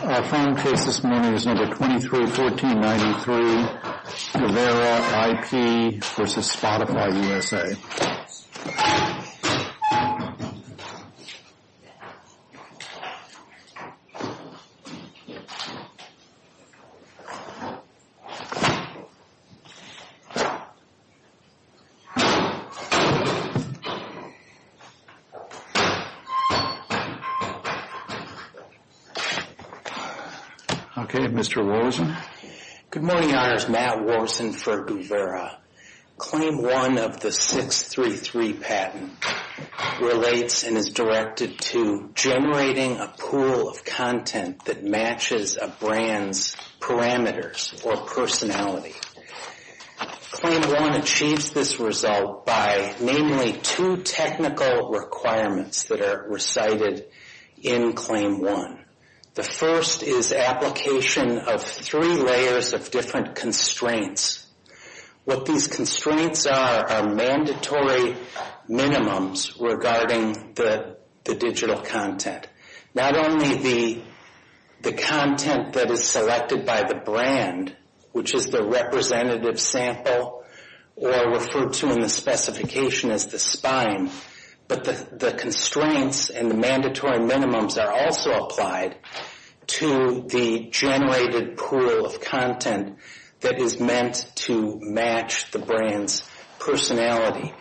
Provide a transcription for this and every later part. Our phone case this morning is No. 231493, Govera IP v. Spotify USA. Okay, Mr. Worzen. Good morning, Your Honors. Matt Worzen for Govera. Claim 1 of the 633 patent relates and is directed to generating a pool of content that matches a brand's parameters or personality. Claim 1 achieves this result by, namely, two technical requirements that are recited in Claim 1. The first is application of three layers of different constraints. What these constraints are are mandatory minimums regarding the digital content. Not only the content that is selected by the brand, which is the representative sample or referred to in the specification as the spine, but the constraints and the mandatory minimums are also applied to the generated pool of content that is meant to match the brand's personality.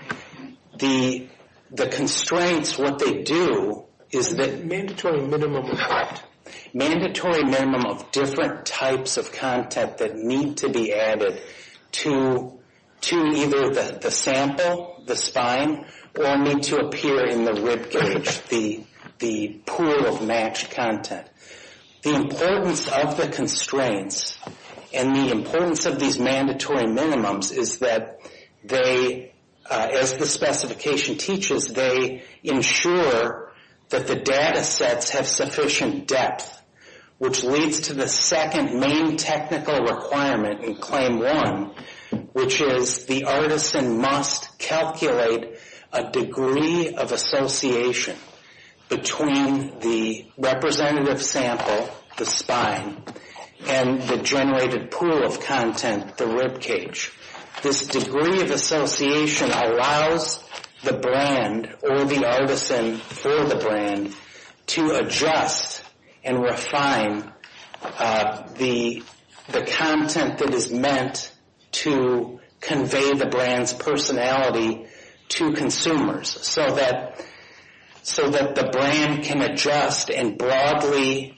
The constraints, what they do is that mandatory minimum of what? Mandatory minimum of different types of content that need to be added to either the sample, the spine, or need to appear in the ribcage, the pool of matched content. The importance of the constraints and the importance of these mandatory minimums is that they, as the specification teaches, they ensure that the data sets have sufficient depth, which leads to the second main technical requirement in Claim 1, which is the artisan must calculate a degree of association between the representative sample, the spine, and the generated pool of content, the ribcage. This degree of association allows the brand or the artisan for the brand to adjust and refine the content that is meant to convey the brand's personality to consumers so that the brand can adjust and broadly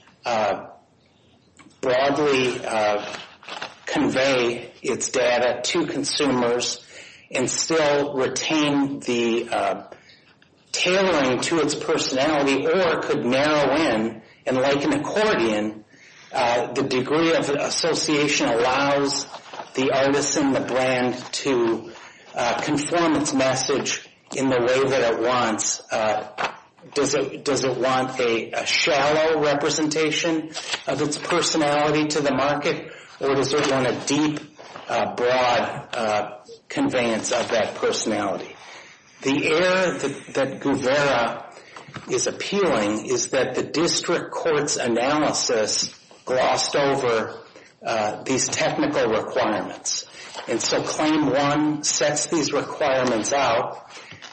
convey its data to consumers and still retain the tailoring to its personality or could narrow in. And like an accordion, the degree of association allows the artisan, the brand, to conform its message in the way that it wants. Does it want a shallow representation of its personality to the market, or does it want a deep, broad conveyance of that personality? The error that Gouvera is appealing is that the district court's analysis glossed over these technical requirements. And so Claim 1 sets these requirements out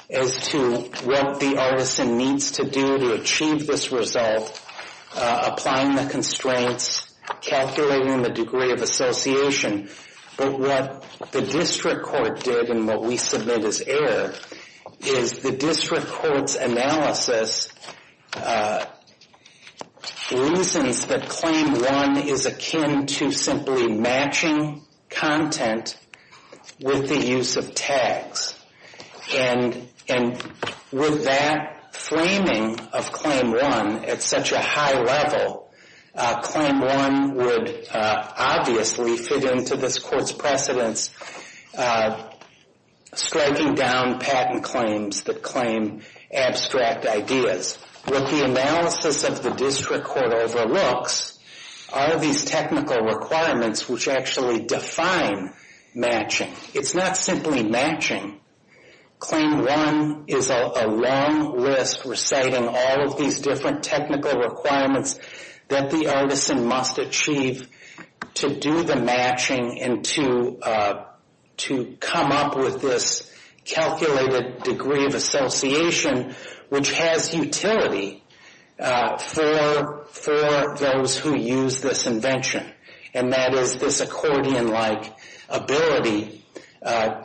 as to what the artisan needs to do to achieve this result, applying the constraints, calculating the degree of association. But what the district court did and what we submit as error is the district court's analysis reasons that Claim 1 is akin to simply matching content with the use of tags. And with that framing of Claim 1 at such a high level, Claim 1 would obviously fit into this court's precedents, striking down patent claims that claim abstract ideas. What the analysis of the district court overlooks are these technical requirements which actually define matching. It's not simply matching. Claim 1 is a long list reciting all of these different technical requirements that the artisan must achieve to do the matching and to come up with this calculated degree of association, which has utility for those who use this invention, and that is this accordion-like ability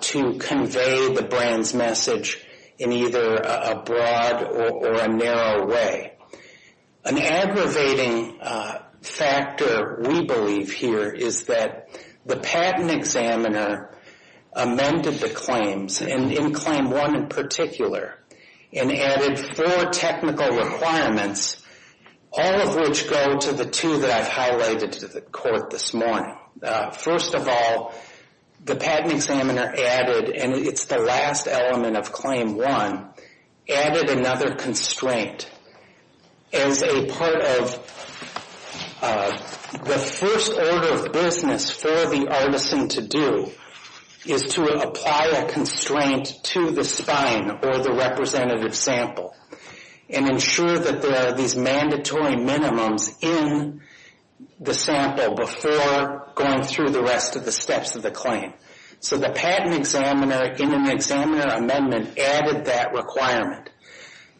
to convey the brand's message in either a broad or a narrow way. An aggravating factor we believe here is that the patent examiner amended the claims, and in Claim 1 in particular, and added four technical requirements, all of which go to the two that I've highlighted to the court this morning. First of all, the patent examiner added, and it's the last element of Claim 1, added another constraint as a part of the first order of business for the artisan to do is to apply a constraint to the spine or the representative sample and ensure that there are these mandatory minimums in the sample before going through the rest of the steps of the claim. So the patent examiner in an examiner amendment added that requirement.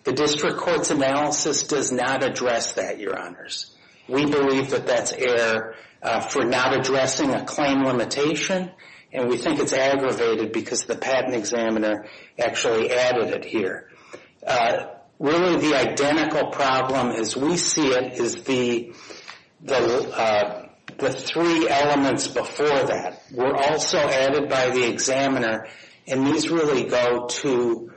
The district court's analysis does not address that, Your Honors. We believe that that's error for not addressing a claim limitation, and we think it's aggravated because the patent examiner actually added it here. Really, the identical problem as we see it is the three elements before that were also added by the examiner, and these really go to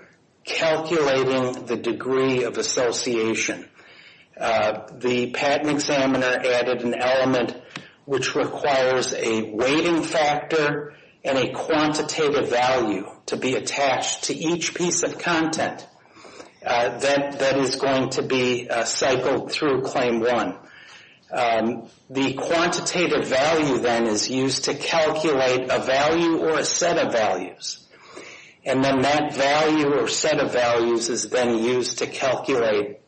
calculating the degree of association. The patent examiner added an element which requires a weighting factor and a quantitative value to be attached to each piece of content that is going to be cycled through Claim 1. The quantitative value then is used to calculate a value or a set of values, and then that value or set of values is then used to calculate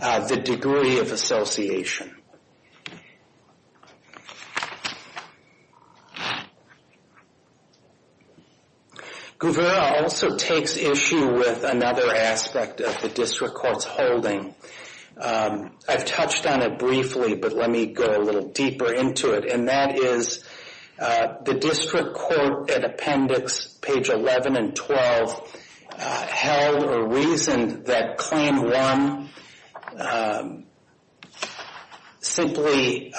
the degree of association. Guvera also takes issue with another aspect of the district court's holding. I've touched on it briefly, but let me go a little deeper into it, and that is the district court at appendix page 11 and 12 held or reasoned that Claim 1 simply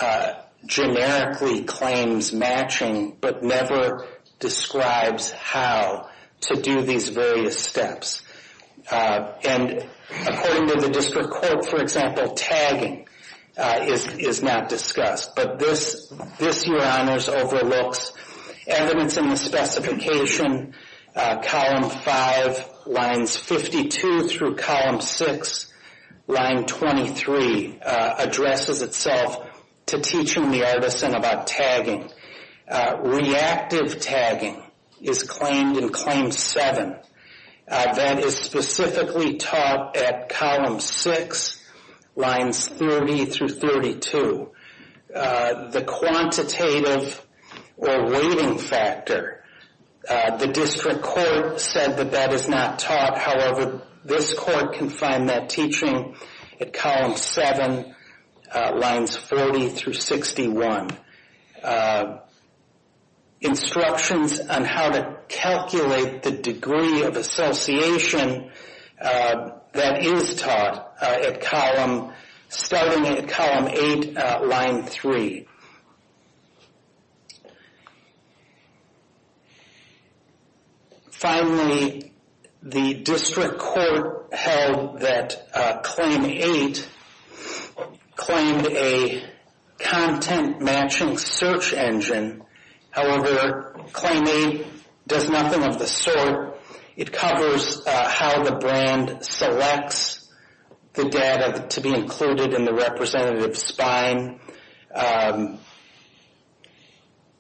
generically claims matching but never describes how to do these various steps. According to the district court, for example, tagging is not discussed, but this, Your Honors, overlooks evidence in the specification column 5 lines 52 through column 6 line 23 addresses itself to teaching the artisan about tagging. Reactive tagging is claimed in Claim 7. That is specifically taught at column 6 lines 30 through 32. The quantitative or weighting factor, the district court said that that is not taught. However, this court can find that teaching at column 7 lines 40 through 61. Instructions on how to calculate the degree of association that is taught at column, starting at column 8 line 3. Finally, the district court held that Claim 8 claimed a content matching search engine. However, Claim 8 does nothing of the sort. It covers how the brand selects the data to be included in the representative's spine.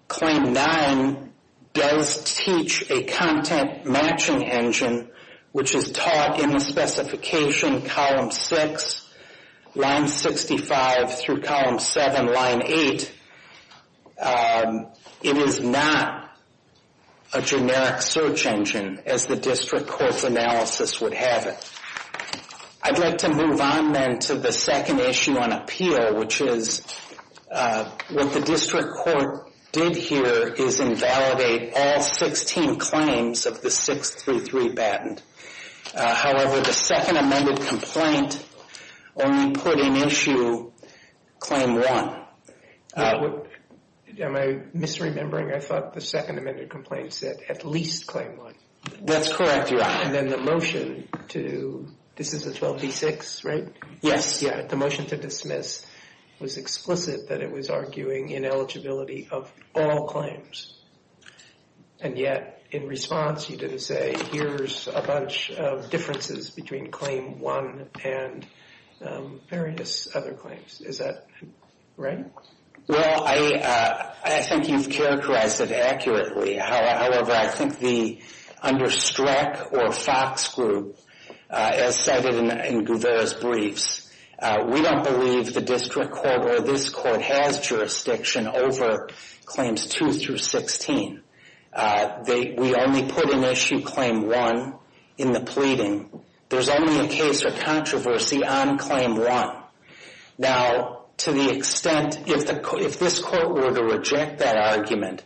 Claim 9 does teach a content matching engine, which is taught in the specification column 6 lines 65 through column 7 line 8. It is not a generic search engine, as the district court's analysis would have it. I'd like to move on then to the second issue on appeal, which is what the district court did here is invalidate all 16 claims of the 633 patent. However, the second amended complaint only put in issue Claim 1. Am I misremembering? I thought the second amended complaint said at least Claim 1. That's correct, Your Honor. And then the motion to, this is the 12D6, right? Yes. The motion to dismiss was explicit that it was arguing ineligibility of all claims. And yet, in response, you didn't say, here's a bunch of differences between Claim 1 and various other claims. Is that right? Well, I think you've characterized it accurately. However, I think the, under Streck or Fox Group, as cited in Gouvera's briefs, we don't believe the district court or this court has jurisdiction over Claims 2 through 16. We only put in issue Claim 1 in the pleading. There's only a case or controversy on Claim 1. Now, to the extent, if this court were to reject that argument,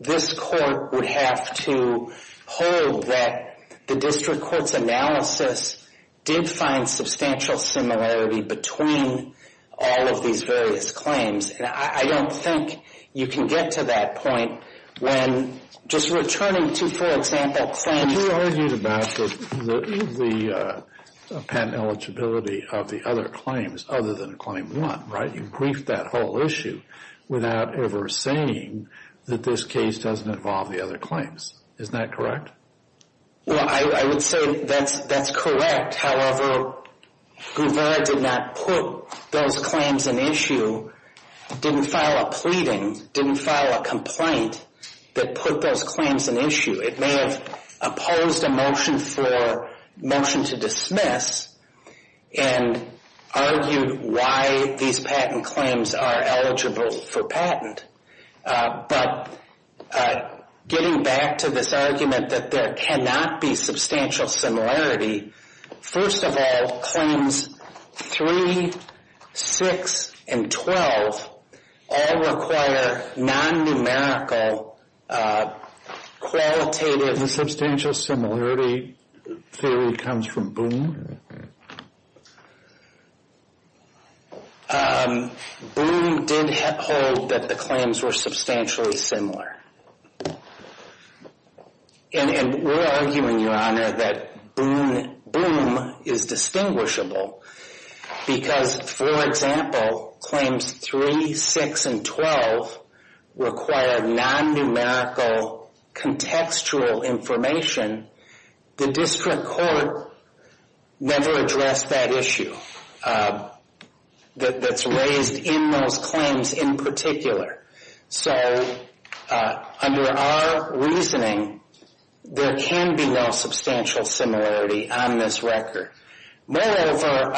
this court would have to hold that the district court's analysis did find substantial similarity between all of these various claims. And I don't think you can get to that point when just returning to, for example, Claims. You argued about the patent eligibility of the other claims other than Claim 1, right? You briefed that whole issue without ever saying that this case doesn't involve the other claims. Isn't that correct? Well, I would say that's correct. However, Gouvera did not put those claims in issue, didn't file a pleading, didn't file a complaint that put those claims in issue. It may have opposed a motion for motion to dismiss and argued why these patent claims are eligible for patent. But getting back to this argument that there cannot be substantial similarity, first of all, Claims 3, 6, and 12 all require non-numerical qualitative... The substantial similarity theory comes from Boone? Boone did hold that the claims were substantially similar. And we're arguing, Your Honor, that Boone is distinguishable because, for example, Claims 3, 6, and 12 require non-numerical contextual information. The District Court never addressed that issue that's raised in those claims in particular. So, under our reasoning, there can be no substantial similarity on this record. Moreover,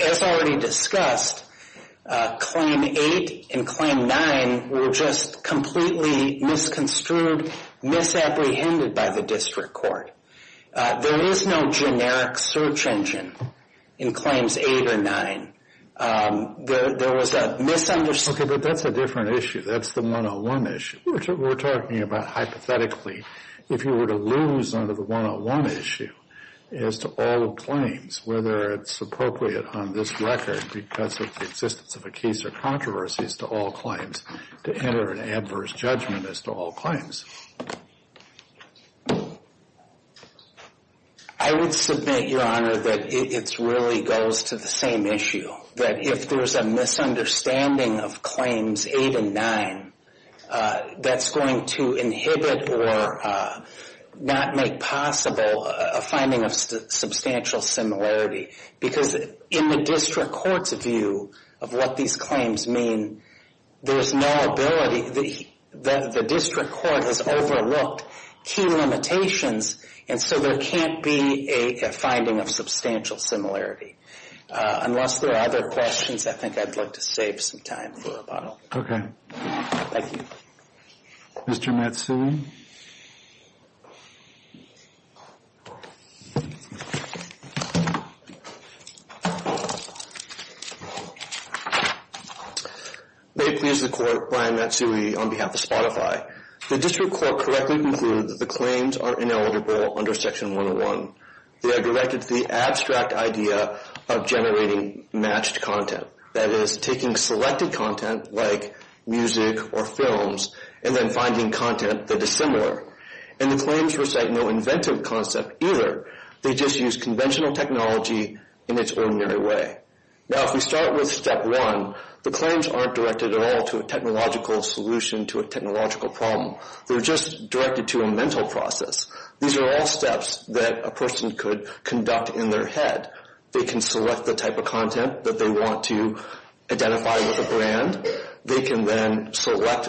as already discussed, Claim 8 and Claim 9 were just completely misconstrued, misapprehended by the District Court. There is no generic search engine in Claims 8 or 9. There was a misunderstanding... Okay, but that's a different issue. That's the 101 issue. We're talking about, hypothetically, if you were to lose under the 101 issue as to all claims, whether it's appropriate on this record, because of the existence of a case or controversy, as to all claims, to enter an adverse judgment as to all claims. I would submit, Your Honor, that it really goes to the same issue. That if there's a misunderstanding of Claims 8 and 9, that's going to inhibit or not make possible a finding of substantial similarity. Because in the District Court's view of what these claims mean, there's no ability... The District Court has overlooked key limitations, and so there can't be a finding of substantial similarity. Unless there are other questions, I think I'd like to save some time for rebuttal. Okay. Thank you. Mr. Matsui? May it please the Court, Brian Matsui on behalf of Spotify. The District Court correctly concluded that the claims are ineligible under Section 101. They are directed to the abstract idea of generating matched content. That is, taking selected content, like music or films, and then finding content that is similar. And the claims recite no inventive concept either. They just use conventional technology in its ordinary way. Now, if we start with Step 1, the claims aren't directed at all to a technological solution to a technological problem. They're just directed to a mental process. These are all steps that a person could conduct in their head. They can select the type of content that they want to identify with a brand. They can then select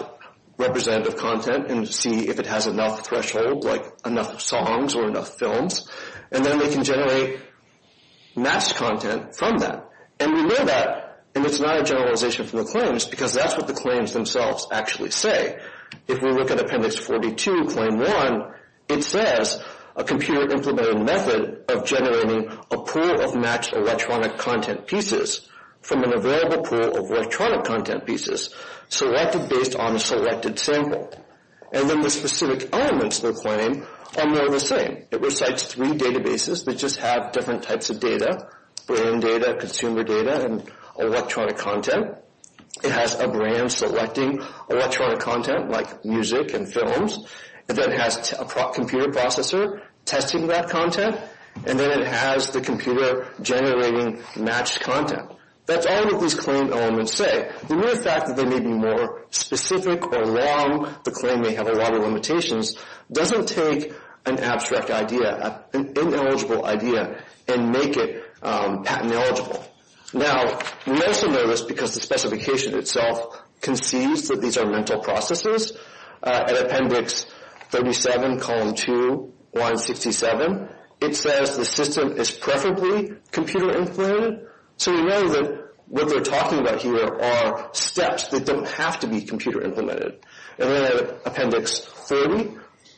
representative content and see if it has enough threshold, like enough songs or enough films. And then they can generate matched content from that. And we know that, and it's not a generalization from the claims, because that's what the claims themselves actually say. If we look at Appendix 42, Claim 1, it says, A computer-implemented method of generating a pool of matched electronic content pieces from an available pool of electronic content pieces selected based on a selected sample. And then the specific elements of the claim are more of the same. It recites three databases that just have different types of data, brand data, consumer data, and electronic content. It has a brand selecting electronic content, like music and films. And then it has a computer processor testing that content. And then it has the computer generating matched content. That's all that these claim elements say. The mere fact that they may be more specific or long, the claim may have a lot of limitations, doesn't take an abstract idea, an ineligible idea, and make it patent-eligible. Now, we also know this because the specification itself concedes that these are mental processes. At Appendix 37, Column 2, Line 67, it says the system is preferably computer-implemented. So we know that what they're talking about here are steps that don't have to be computer-implemented. And then at Appendix 30,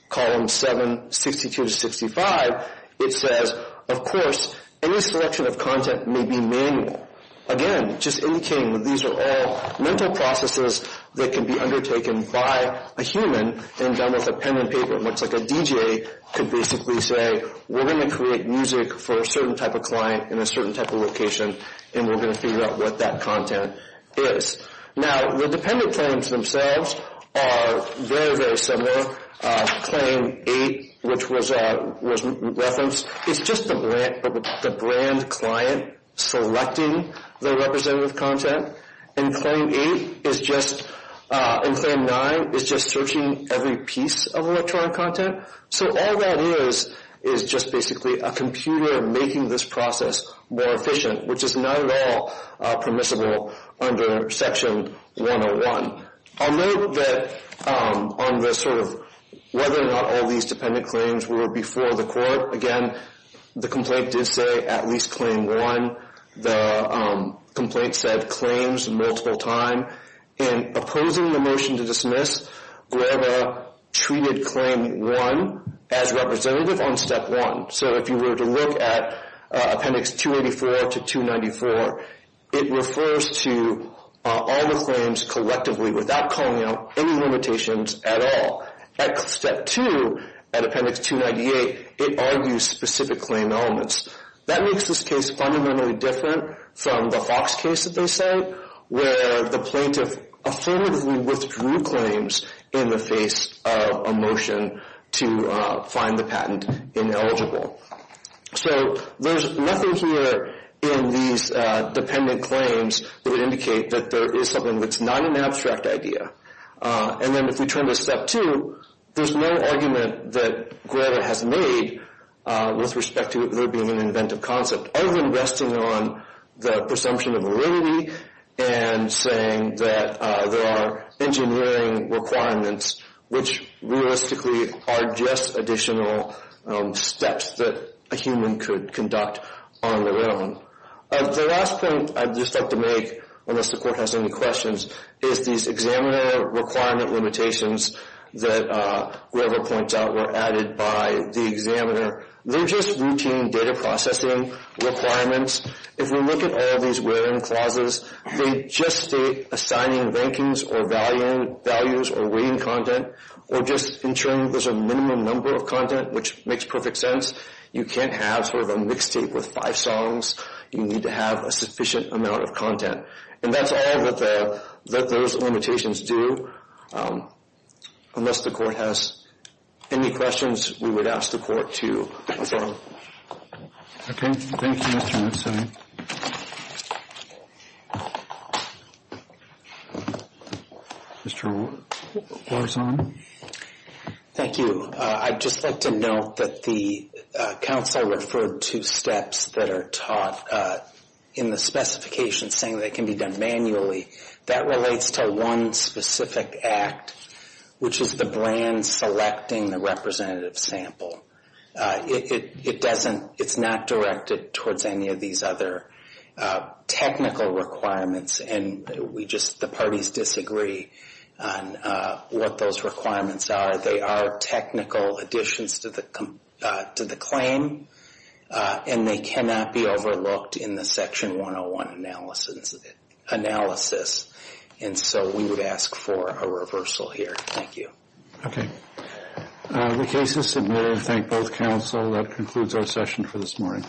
Columns 7, 62 to 65, it says, of course, any selection of content may be manual. Again, just indicating that these are all mental processes that can be undertaken by a human and done with a pen and paper, much like a DJ could basically say, we're going to create music for a certain type of client in a certain type of location, and we're going to figure out what that content is. Now, the dependent claims themselves are very, very similar. Claim 8, which was referenced, is just the brand client selecting the representative content. And Claim 9 is just searching every piece of electronic content. So all that is is just basically a computer making this process more efficient, which is not at all permissible under Section 101. I'll note that on the sort of whether or not all these dependent claims were before the court, again, the complaint did say at least Claim 1. The complaint said claims multiple times. In opposing the motion to dismiss, GRABA treated Claim 1 as representative on Step 1. So if you were to look at Appendix 284 to 294, it refers to all the claims collectively without calling out any limitations at all. At Step 2, at Appendix 298, it argues specific claim elements. That makes this case fundamentally different from the Fox case that they sent, where the plaintiff affirmatively withdrew claims in the face of a motion to find the patent ineligible. So there's nothing here in these dependent claims that would indicate that there is something that's not an abstract idea. And then if we turn to Step 2, there's no argument that GRABA has made with respect to there being an inventive concept. Other than resting on the presumption of validity and saying that there are engineering requirements, which realistically are just additional steps that a human could conduct on their own. The last point I'd just like to make, unless the court has any questions, is these examiner requirement limitations that GRABA points out were added by the examiner. They're just routine data processing requirements. If we look at all these where-in clauses, they just state assigning rankings or values or weighting content, or just ensuring there's a minimum number of content, which makes perfect sense. You can't have sort of a mixtape with five songs. You need to have a sufficient amount of content. And that's all that those limitations do. Unless the court has any questions, we would ask the court to adjourn. Okay. Thank you, Mr. McSally. Mr. Warzon. Thank you. I'd just like to note that the counsel referred to steps that are taught in the specifications saying they can be done manually. That relates to one specific act, which is the brand selecting the representative sample. It doesn't, it's not directed towards any of these other technical requirements, and we just, the parties disagree on what those requirements are. They are technical additions to the claim, and they cannot be overlooked in the Section 101 analysis. And so we would ask for a reversal here. Thank you. Okay. The case is submitted. Thank both counsel. That concludes our session for this morning.